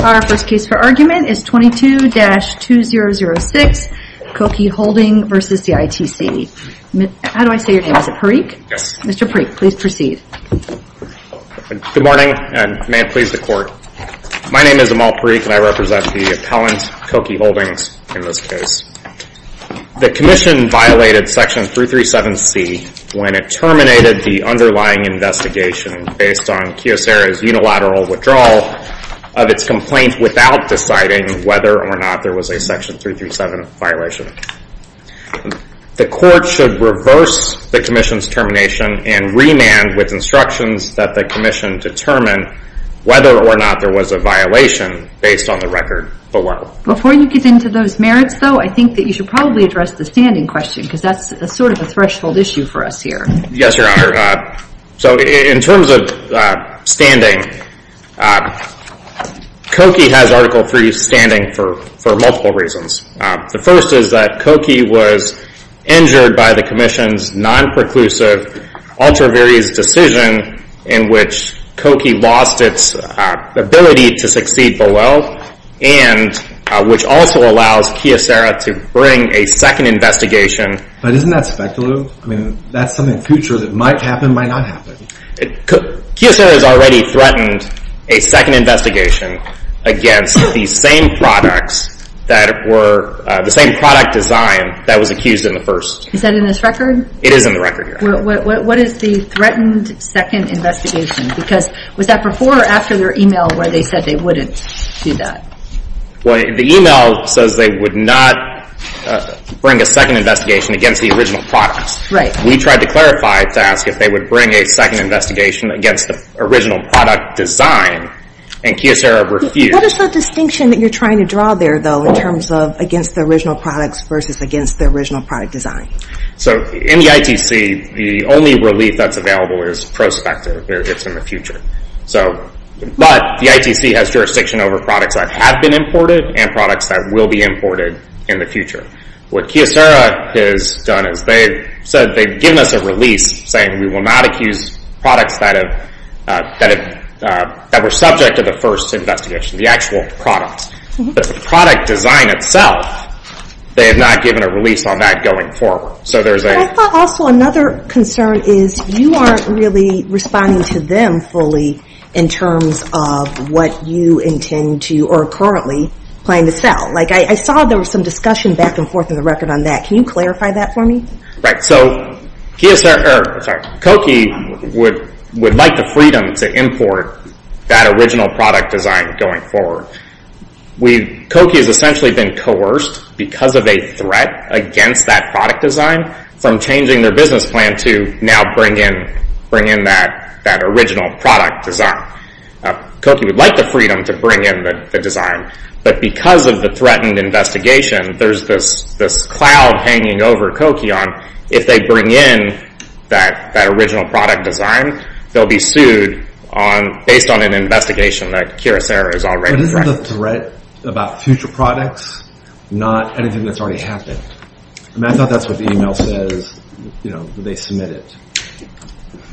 Our first case for argument is 22-2006 Koki Holdings v. ITC. How do I say your name? Is it Parikh? Yes. Mr. Parikh, please proceed. Good morning and may it please the court. My name is Amal Parikh and I represent the appellant, Koki Holdings, in this case. The commission violated Section 337C when it terminated the underlying investigation based on Kyocera's unilateral withdrawal of its complaint without deciding whether or not there was a Section 337 violation. The court should reverse the commission's termination and remand with instructions that the commission determine whether or not there was a violation based on the record below. Before you get into those merits, though, I think that you should probably address the standing question because that's sort of a threshold issue for us here. Yes, Your Honor. So in terms of standing, Koki has Article III standing for multiple reasons. The first is that Koki was injured by the commission's non-preclusive, ultra-various decision in which Koki lost its ability to succeed Boel and which also allows Kyocera to bring a second investigation. But isn't that speculative? I mean, that's something in the future that might happen, might not happen. Kyocera has already threatened a second investigation against the same product design that was accused in the first. Is that in this record? It is in the record, Your Honor. What is the threatened second investigation? Because was that before or after their email where they said they wouldn't do that? Well, the email says they would not bring a second investigation against the original products. We tried to clarify to ask if they would bring a second investigation against the original product design and Kyocera refused. What is the distinction that you're trying to draw there, though, in terms of against the original products versus against the original product design? So in the ITC, the only relief that's available is prospective. It's in the future. But the ITC has jurisdiction over products that have been imported and products that will be imported in the future. What Kyocera has done is they've said they've given us a release saying we will not accuse products that were subject to the first investigation, the actual products. But the product design itself, they have not given a release on that going forward. But I thought also another concern is you aren't really responding to them fully in terms of what you intend to or are currently planning to sell. I saw there was some discussion back and forth in the record on that. Can you clarify that for me? So Kyocera would like the freedom to import that original product design going forward. Koki has essentially been coerced because of a threat against that product design from changing their business plan to now bring in that original product design. Koki would like the freedom to bring in the design. But because of the threatened investigation, there's this cloud hanging over Koki on if they bring in that original product design, they'll be sued based on an investigation that Kyocera has already threatened. So this is a threat about future products, not anything that's already happened. And I thought that's what the email says when they submit it.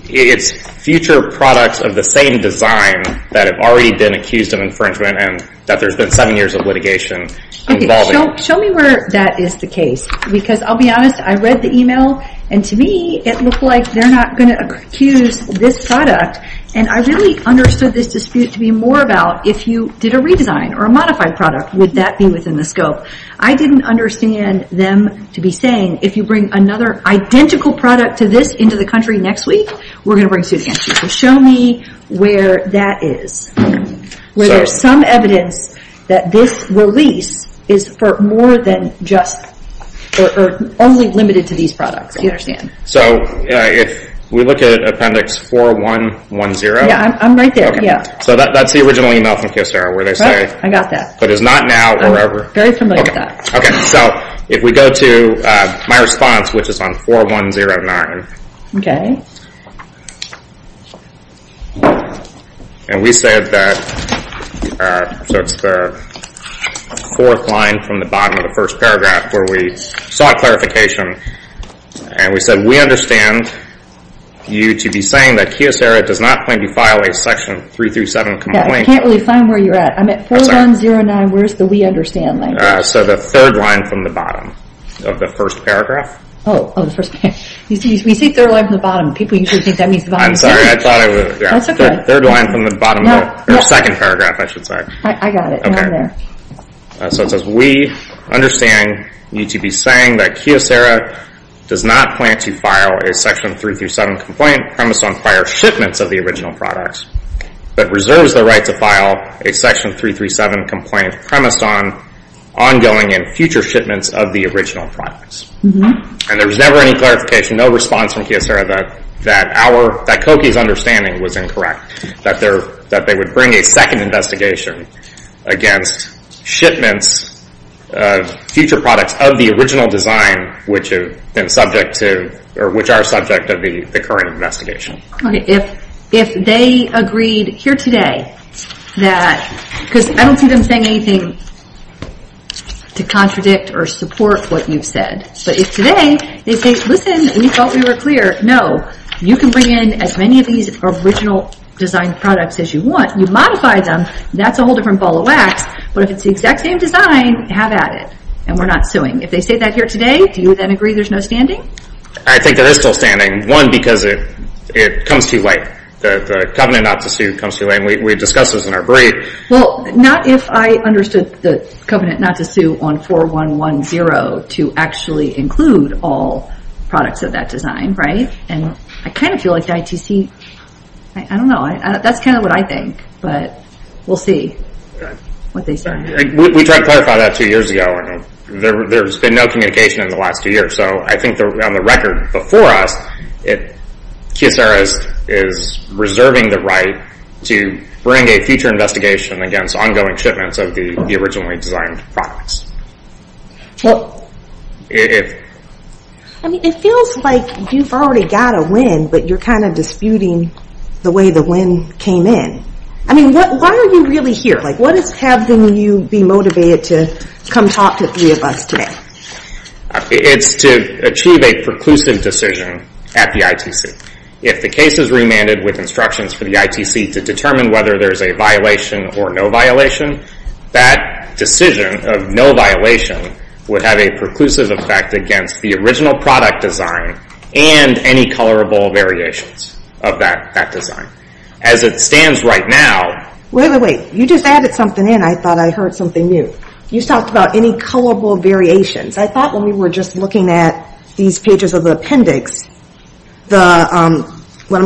It's future products of the same design that have already been accused of infringement and that there's been seven years of litigation involving. Okay, show me where that is the case. Because I'll be honest, I read the email, and to me it looked like they're not going to accuse this product. And I really understood this dispute to be more about if you did a redesign or a modified product, would that be within the scope? I didn't understand them to be saying, if you bring another identical product to this into the country next week, we're going to bring suit against you. So show me where that is. Where there's some evidence that this release is for more than just or only limited to these products, do you understand? So if we look at Appendix 4110. Yeah, I'm right there, yeah. So that's the original email from Kyocera where they say, I got that. But it's not now or ever. I'm very familiar with that. Okay, so if we go to my response, which is on 4109. Okay. And we said that, so it's the fourth line from the bottom of the first paragraph where we sought clarification, and we said, we understand you to be saying that Kyocera does not plan to file a Section 337 complaint. Yeah, I can't really find where you're at. I'm at 4109. Where's the we understand line? So the third line from the bottom of the first paragraph. Oh, the first paragraph. We say third line from the bottom. People usually think that means the bottom of the second. I'm sorry, I thought I was. That's okay. Third line from the bottom of the second paragraph, I should say. I got it, and I'm there. So it says, we understand you to be saying that Kyocera does not plan to file a Section 337 complaint premised on prior shipments of the original products, but reserves the right to file a Section 337 complaint premised on ongoing and future shipments of the original products. And there was never any clarification, no response from Kyocera that our, that Koki's understanding was incorrect, that they would bring a second investigation against shipments of future products of the original design which have been subject to, or which are subject of the current investigation. Okay, if they agreed here today that, because I don't see them saying anything to contradict or support what you've said. But if today they say, listen, we thought we were clear. No, you can bring in as many of these original design products as you want. You modify them. That's a whole different ball of wax. But if it's the exact same design, have at it. And we're not suing. If they say that here today, do you then agree there's no standing? I think there is still standing. One, because it comes too late. The covenant not to sue comes too late. We discussed this in our brief. Well, not if I understood the covenant not to sue on 4110 to actually include all products of that design, right? And I kind of feel like the ITC, I don't know, that's kind of what I think. But we'll see what they say. We tried to clarify that two years ago. There's been no communication in the last two years. So I think on the record before us, Kyocera is reserving the right to bring a future investigation against ongoing shipments of the originally designed products. Well, I mean, it feels like you've already got a win, but you're kind of disputing the way the win came in. I mean, why are you really here? What is having you be motivated to come talk to three of us today? It's to achieve a preclusive decision at the ITC. If the case is remanded with instructions for the ITC to determine whether there's a violation or no violation, that decision of no violation would have a preclusive effect against the original product design and any colorable variations of that design. As it stands right now. Wait, wait, wait. You just added something in. I thought I heard something new. You talked about any colorable variations. I thought when we were just looking at these pages of the appendix, what I'm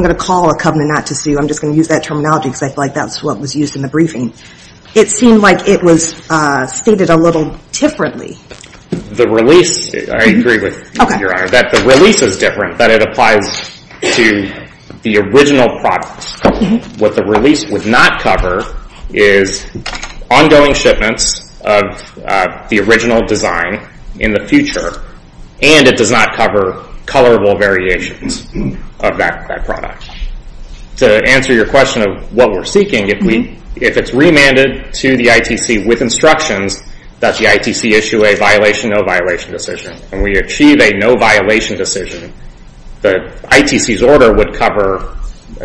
going to call a covenant not to sue, I'm just going to use that terminology because I feel like that's what was used in the briefing. It seemed like it was stated a little differently. The release, I agree with Your Honor, that the release is different, that it applies to the original products. What the release would not cover is ongoing shipments of the original design in the future, and it does not cover colorable variations of that product. To answer your question of what we're seeking, if it's remanded to the ITC with instructions that the ITC issue a violation, no violation decision, and we achieve a no violation decision, the ITC's order would cover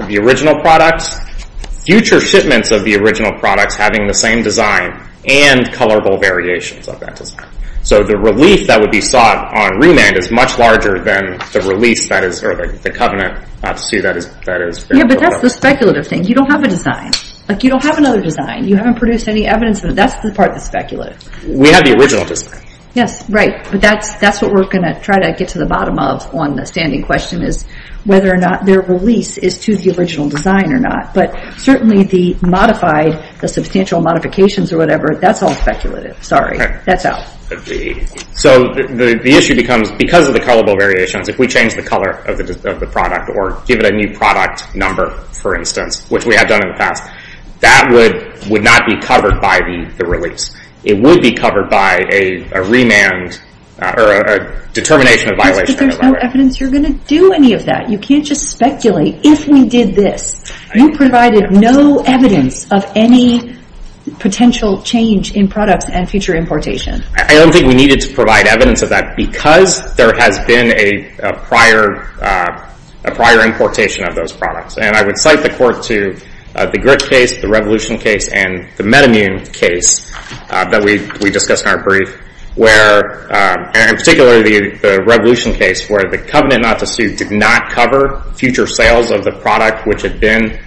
the original products, future shipments of the original products having the same design, and colorable variations of that design. So the relief that would be sought on remand is much larger than the release that is, or the covenant, not to sue, that is. Yeah, but that's the speculative thing. You don't have a design. You don't have another design. You haven't produced any evidence. That's the part that's speculative. We have the original design. Yes, right. But that's what we're going to try to get to the bottom of on the standing question, is whether or not their release is to the original design or not. But certainly the modified, the substantial modifications or whatever, that's all speculative. Sorry, that's out. So the issue becomes, because of the colorable variations, if we change the color of the product or give it a new product number, for instance, which we have done in the past, that would not be covered by the release. It would be covered by a remand or a determination of violation. But if there's no evidence, you're going to do any of that. You can't just speculate. If we did this, you provided no evidence of any potential change in products and future importation. I don't think we needed to provide evidence of that because there has been a prior importation of those products. And I would cite the court to the Grit case, the Revolution case, and the Metamune case that we discussed in our brief, and particularly the Revolution case where the covenant not to sue did not cover future sales of the product which had been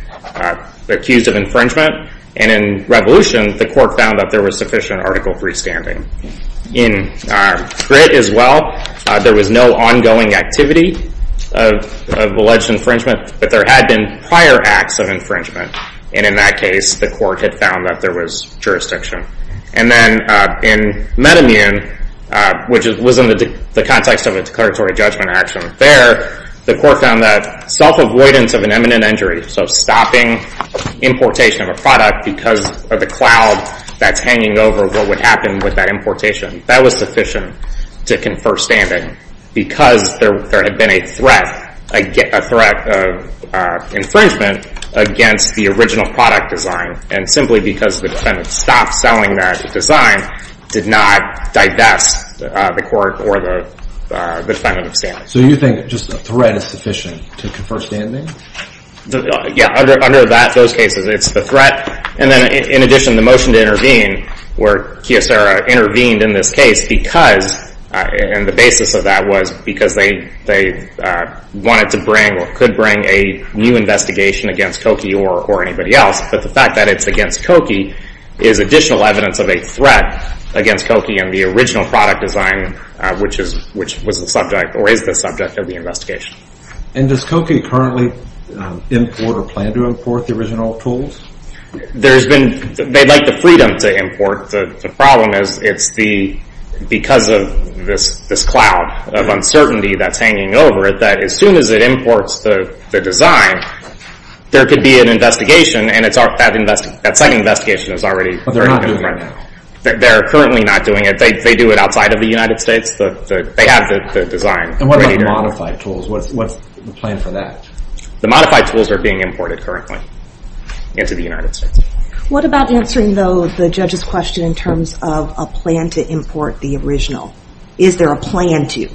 accused of infringement. And in Revolution, the court found that there was sufficient article freestanding. In Grit as well, there was no ongoing activity of alleged infringement, but there had been prior acts of infringement. And in that case, the court had found that there was jurisdiction. And then in Metamune, which was in the context of a declaratory judgment action, there the court found that self-avoidance of an imminent injury, so stopping importation of a product because of the cloud that's hanging over what would happen with that importation, that was sufficient to confer standing because there had been a threat of infringement against the original product design. And simply because the defendant stopped selling that design did not divest the court or the defendant of standing. So you think just a threat is sufficient to confer standing? Yeah, under those cases, it's the threat. And then in addition, the motion to intervene where Kyocera intervened in this case because, and the basis of that was because they wanted to bring or could bring a new investigation against Koki or anybody else. But the fact that it's against Koki is additional evidence of a threat against Koki and the original product design, which was the subject or is the subject of the investigation. And does Koki currently import or plan to import the original tools? There's been, they'd like the freedom to import. The problem is it's the, because of this cloud of uncertainty that's hanging over it that as soon as it imports the design, there could be an investigation and that second investigation is already going on right now. They're currently not doing it. They do it outside of the United States. They have the design. And what about the modified tools? What's the plan for that? The modified tools are being imported currently into the United States. What about answering, though, the judge's question in terms of a plan to import the original? Is there a plan to?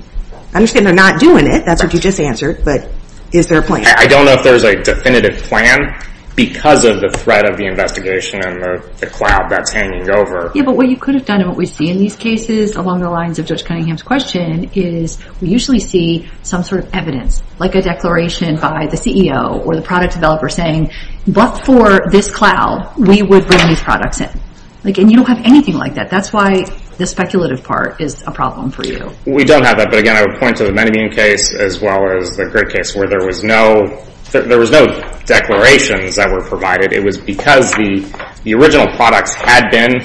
I understand they're not doing it. That's what you just answered. But is there a plan? I don't know if there's a definitive plan because of the threat of the investigation and the cloud that's hanging over. Yeah, but what you could have done and what we see in these cases along the lines of Judge Cunningham's question is we usually see some sort of evidence, like a declaration by the CEO or the product developer saying, but for this cloud, we would bring these products in. And you don't have anything like that. That's why the speculative part is a problem for you. We don't have that. But again, I would point to the Menomine case as well as the Grid case where there was no declarations that were provided. It was because the original products had been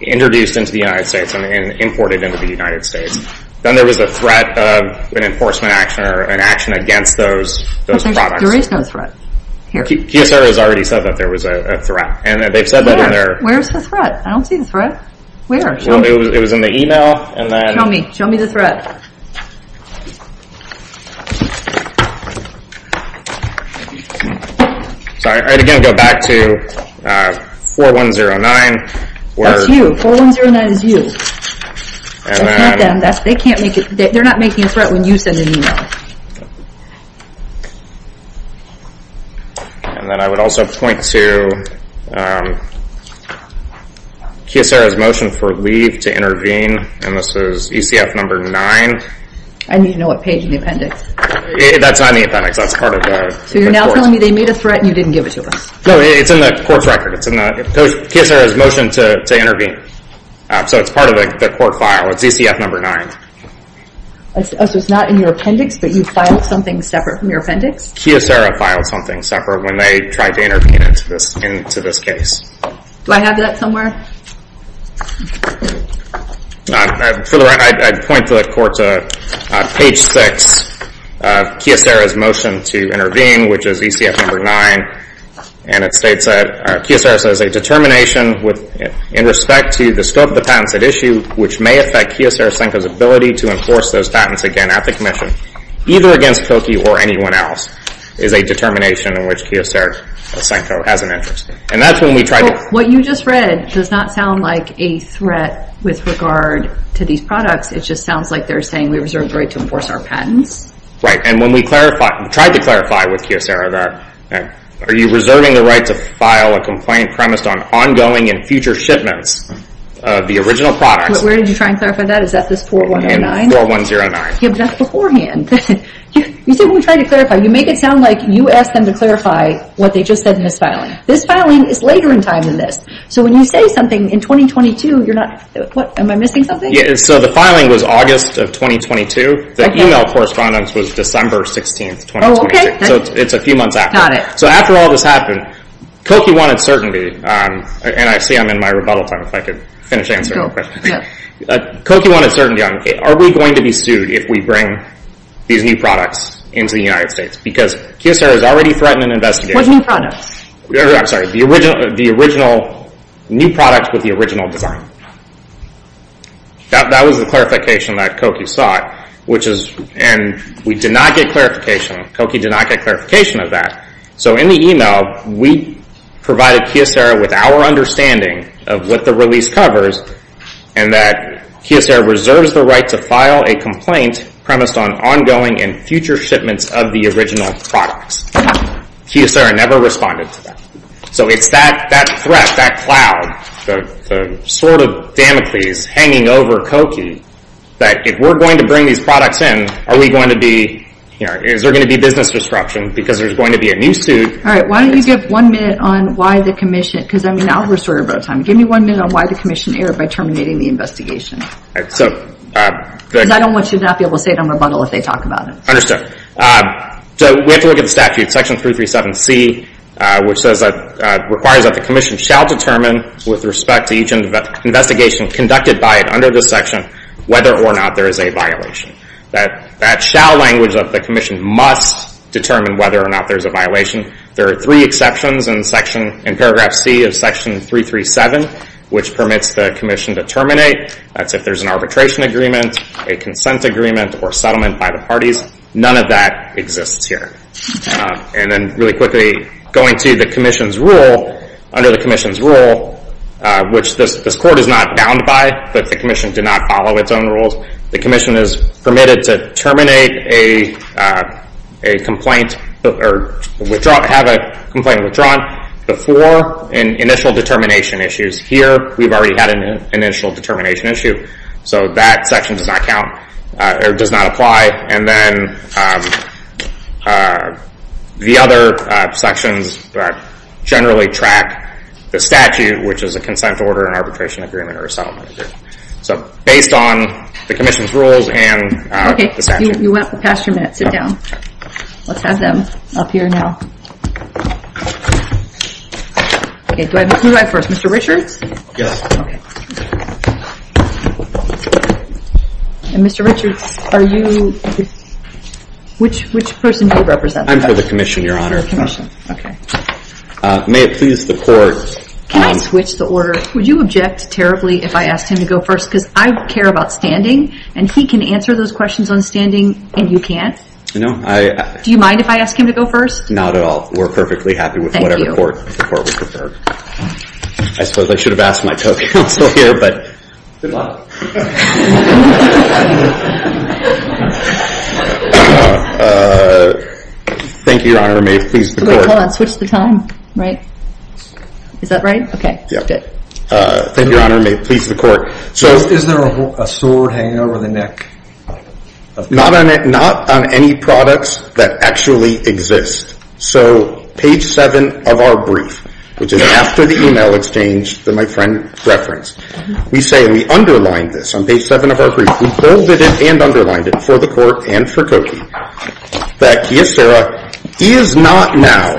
introduced into the United States and imported into the United States. Then there was a threat of an enforcement action or an action against those products. There is no threat here. QSR has already said that there was a threat. And they've said that in their... Where's the threat? I don't see the threat. Where? It was in the email. Show me. Show me the threat. I'd again go back to 4109. That's you. 4109 is you. That's not them. They're not making a threat when you send an email. And then I would also point to QSR's motion for leave to intervene. And this is ECF number 9. I need to know what page in the appendix. That's not in the appendix. That's part of the... So you're now telling me they made a threat and you didn't give it to us. No, it's in the court's record. It's in the... QSR's motion to intervene. So it's part of the court file. It's ECF number 9. So it's not in your appendix, but you filed something separate from your appendix? QSR filed something separate when they tried to intervene into this case. Do I have that somewhere? For the record, I'd point the court to page 6 of QSR's motion to intervene, which is ECF number 9. And it states that QSR says, a determination in respect to the scope of the patents at issue, which may affect QSR's ability to enforce those patents again at the commission, either against Pilkey or anyone else, is a determination in which QSR has an interest. And that's when we tried to... What you just read does not sound like a threat with regard to these products. It just sounds like they're saying we reserve the right to enforce our patents. Right. And when we tried to clarify with QSR that are you reserving the right to file a complaint premised on ongoing and future shipments of the original products... Where did you try and clarify that? Is that this 4109? 4109. Yeah, but that's beforehand. You said when we tried to clarify, you make it sound like you asked them to clarify what they just said in this filing. This filing is later in time than this. So when you say something in 2022, you're not... Am I missing something? So the filing was August of 2022. The email correspondence was December 16th, 2022. So it's a few months after. Got it. So after all this happened, Koki wanted certainty. And I see I'm in my rebuttal time if I could finish answering real quick. Koki wanted certainty on, are we going to be sued if we bring these new products into the United States? Because Kyocera has already threatened an investigation. What new products? I'm sorry. The original new product with the original design. That was the clarification that Koki sought. And we did not get clarification. Koki did not get clarification of that. So in the email, we provided Kyocera with our understanding of what the release covers and that Kyocera reserves the right to file a complaint premised on ongoing and future shipments of the original products. Kyocera never responded to that. So it's that threat, that cloud, the sword of Damocles hanging over Koki, that if we're going to bring these products in, are we going to be, is there going to be business disruption because there's going to be a new suit? All right, why don't you give one minute on why the commission, because I mean, now we're sort of out of time. Give me one minute on why the commission erred by terminating the investigation. Because I don't want you to not be able to say it on rebuttal if they talk about it. Understood. So we have to look at the statute, section 337C, which says that, requires that the commission shall determine with respect to each investigation conducted by it under this section whether or not there is a violation. That shall language of the commission must determine whether or not there's a violation. There are three exceptions in paragraph C of section 337, which permits the commission to terminate. That's if there's an arbitration agreement, a consent agreement, or settlement by the parties. None of that exists here. And then really quickly, going to the commission's rule, under the commission's rule, which this court is not bound by, but the commission did not follow its own rules, the commission is permitted to terminate a complaint or withdraw, have a complaint withdrawn before an initial determination issues. Here, we've already had an initial determination issue. So that section does not count, or does not apply. And then the other sections generally track the statute, which is a consent order, an arbitration agreement, or a settlement agreement. So based on the commission's rules and the statute. Okay, you went past your minute. Sit down. Let's have them up here now. Okay, do I have to move first? Mr. Richards? Yes. Okay. Mr. Richards, are you... Which person do you represent? I'm for the commission, Your Honor. Okay. May it please the court... Can I switch the order? Would you object terribly if I asked him to go first? Because I care about standing, and he can answer those questions on standing, and you can't? No, I... Do you mind if I ask him to go first? Not at all. We're perfectly happy with whatever the court would prefer. Thank you. I suppose I should have asked my toe counsel here, but... Good luck. Thank you, Your Honor. May it please the court... Wait, hold on. Switch the time, right? Is that right? Okay, good. Thank you, Your Honor. May it please the court... So is there a sword hanging over the neck? Not on any products that actually exist. So page 7 of our brief, which is after the e-mail exchange that my friend referenced, we say, and we underlined this on page 7 of our brief, we bolded it and underlined it for the court and for Cokie, that Kyostera is not now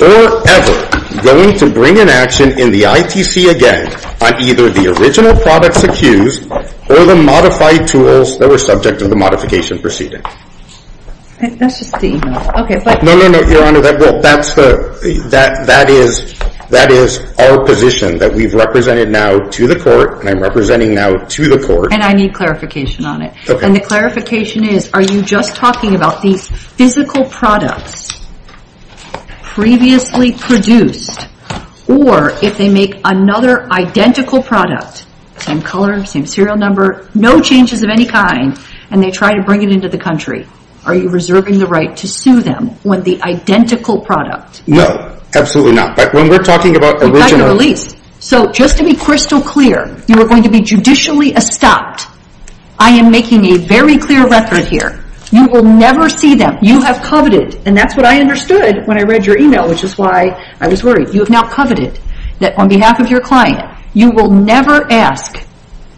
or ever going to bring an action in the ITC again on either the original products accused or the modified tools that were subject to the modification proceeding. That's just the e-mail. Okay, but... No, no, no, Your Honor. Well, that is our position that we've represented now to the court and I'm representing now to the court. And I need clarification on it. Okay. And the clarification is, are you just talking about the physical products previously produced or if they make another identical product, same color, same serial number, no changes of any kind, and they try to bring it into the country, are you reserving the right to sue them with the identical product? No, absolutely not. But when we're talking about original... You've had your release. So just to be crystal clear, you are going to be judicially stopped. I am making a very clear record here. You will never see them. You have coveted, and that's what I understood when I read your e-mail, which is why I was worried. You have now coveted that on behalf of your client, you will never ask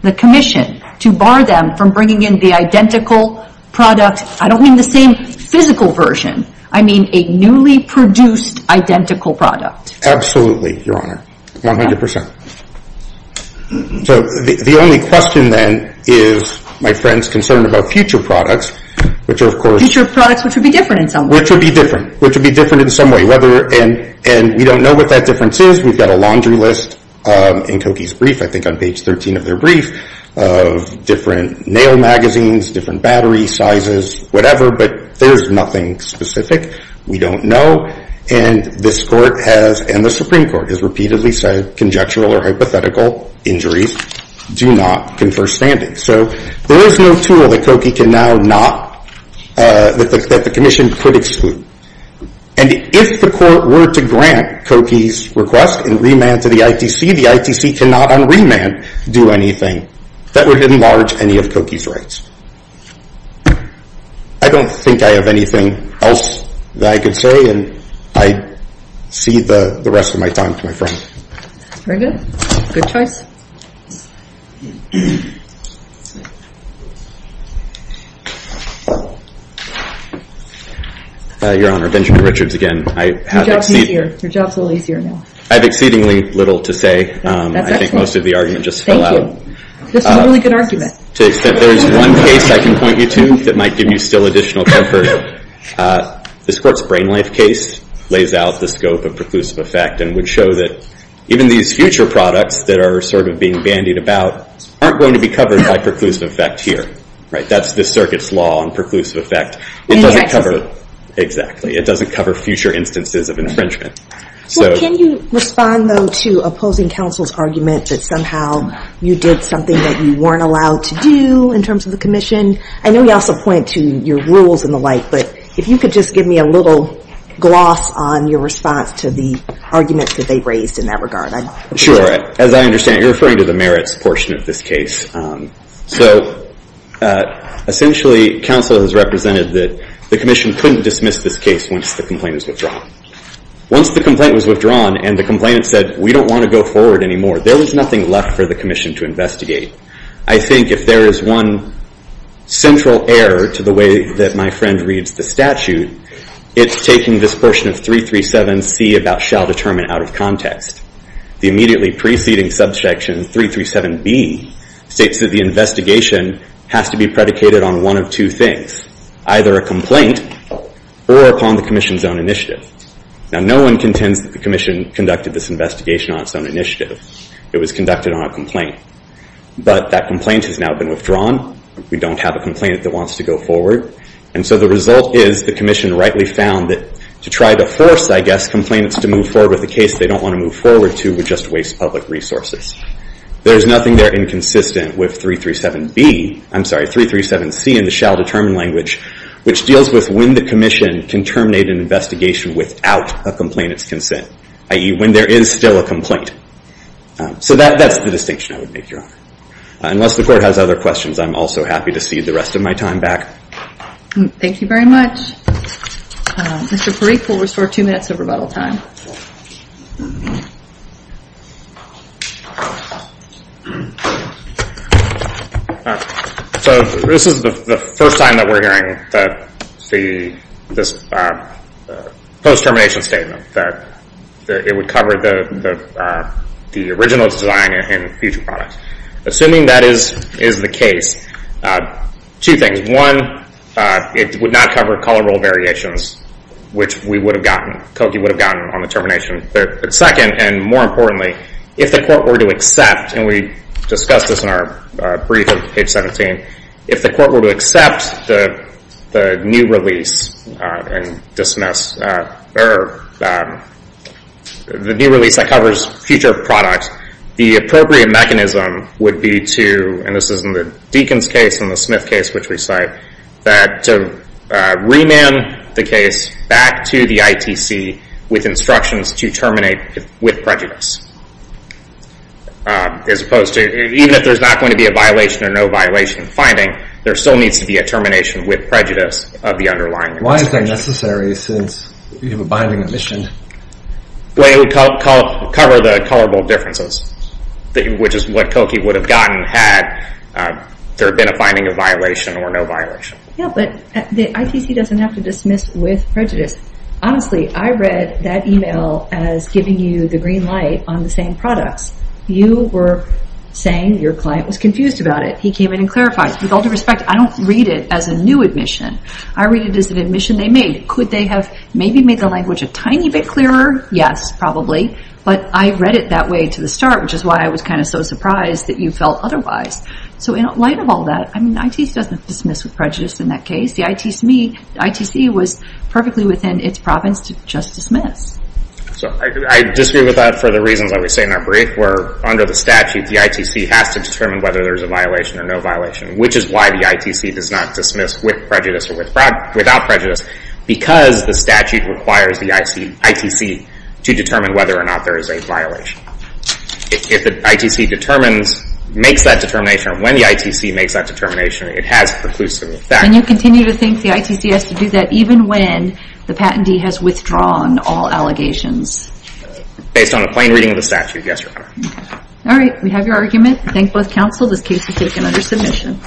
the commission to bar them from bringing in the identical product. I don't mean the same physical version. I mean a newly produced identical product. Absolutely, Your Honor, 100%. So the only question then is my friend's concern about future products, which are, of course... Future products which would be different in some way. Which would be different. Which would be different in some way. And we don't know what that difference is. We've got a laundry list in Cokie's brief, I think on page 13 of their brief, of different nail magazines, different battery sizes, whatever. But there's nothing specific. We don't know. And this court has, and the Supreme Court has repeatedly said, conjectural or hypothetical injuries do not confer standing. So there is no tool that Cokie can now not... That the commission could exclude. And if the court were to grant Cokie's request and remand to the ITC, the ITC cannot on remand do anything. That would enlarge any of Cokie's rights. I don't think I have anything else that I could say, and I cede the rest of my time to my friend. Very good. Good choice. Your Honor, Benjamin Richards again. Your job's a little easier now. I have exceedingly little to say. That's excellent. I think most of the argument just fell out. Thank you. This is a really good argument. To the extent there is one case I can point you to that might give you still additional comfort. This court's Brain Life case lays out the scope of preclusive effect and would show that even these future products that are sort of being bandied about aren't going to be covered by preclusive effect here. That's this circuit's law on preclusive effect. It doesn't cover... Infections. Exactly. It doesn't cover future instances of infringement. Can you respond, though, to opposing counsel's argument that somehow you did something that you weren't allowed to do in terms of the commission? I know you also point to your rules and the like, but if you could just give me a little gloss on your response to the arguments that they raised in that regard. Sure. As I understand it, you're referring to the merits portion of this case. So, essentially, counsel has represented that the commission couldn't dismiss this case once the complaint is withdrawn. Once the complaint was withdrawn and the complainant said, we don't want to go forward anymore, there was nothing left for the commission to investigate. I think if there is one central error to the way that my friend reads the statute, it's taking this portion of 337C about shall determine out of context. The immediately preceding subsection, 337B, states that the investigation has to be predicated on one of two things. Either a complaint or upon the commission's own initiative. Now, no one contends that the commission conducted this investigation on its own initiative. It was conducted on a complaint. But that complaint has now been withdrawn. We don't have a complainant that wants to go forward. And so the result is the commission rightly found that to try to force, I guess, complainants to move forward with a case they don't want to move forward to would just waste public resources. There's nothing there inconsistent with 337B, I'm sorry, 337C in the shall determine language, which deals with when the commission can terminate an investigation without a complainant's consent, i.e. when there is still a complaint. So that's the distinction I would make, Your Honor. Unless the court has other questions, I'm also happy to cede the rest of my time back. Thank you very much. Mr. Parikh will restore two minutes of rebuttal time. So this is the first time that we're hearing this post-termination statement, that it would cover the original design and future product. Assuming that is the case, two things. One, it would not cover colorable variations, which we would have gotten, COKI would have gotten on the termination. Second, and more importantly, if the court were to accept, and we discussed this in our brief on page 17, if the court were to accept the new release that covers future product, the appropriate mechanism would be to, and this is in the Deakins case and the Smith case, which we cite, that to remand the case back to the ITC with instructions to terminate with prejudice. Even if there's not going to be a violation or no violation finding, there still needs to be a termination with prejudice of the underlying. Why is that necessary since you have a binding omission? It would cover the colorable differences, which is what COKI would have gotten had there been a binding of violation or no violation. Yeah, but the ITC doesn't have to dismiss with prejudice. Honestly, I read that email as giving you the green light on the same products. You were saying your client was confused about it. He came in and clarified. With all due respect, I don't read it as a new admission. I read it as an admission they made. Could they have maybe made the language a tiny bit clearer? Yes, probably. But I read it that way to the start, which is why I was kind of so surprised that you felt otherwise. So in light of all that, ITC doesn't dismiss with prejudice in that case. The ITC was perfectly within its province to just dismiss. I disagree with that for the reasons I would say in our brief, where under the statute, the ITC has to determine whether there is a violation or no violation, which is why the ITC does not dismiss with prejudice or without prejudice because the statute requires the ITC to determine whether or not there is a violation. If the ITC makes that determination or when the ITC makes that determination, it has preclusive effect. And you continue to think the ITC has to do that even when the patentee has withdrawn all allegations. Based on a plain reading of the statute, yes, Your Honor. All right, we have your argument. Thank both counsel. This case is taken under submission.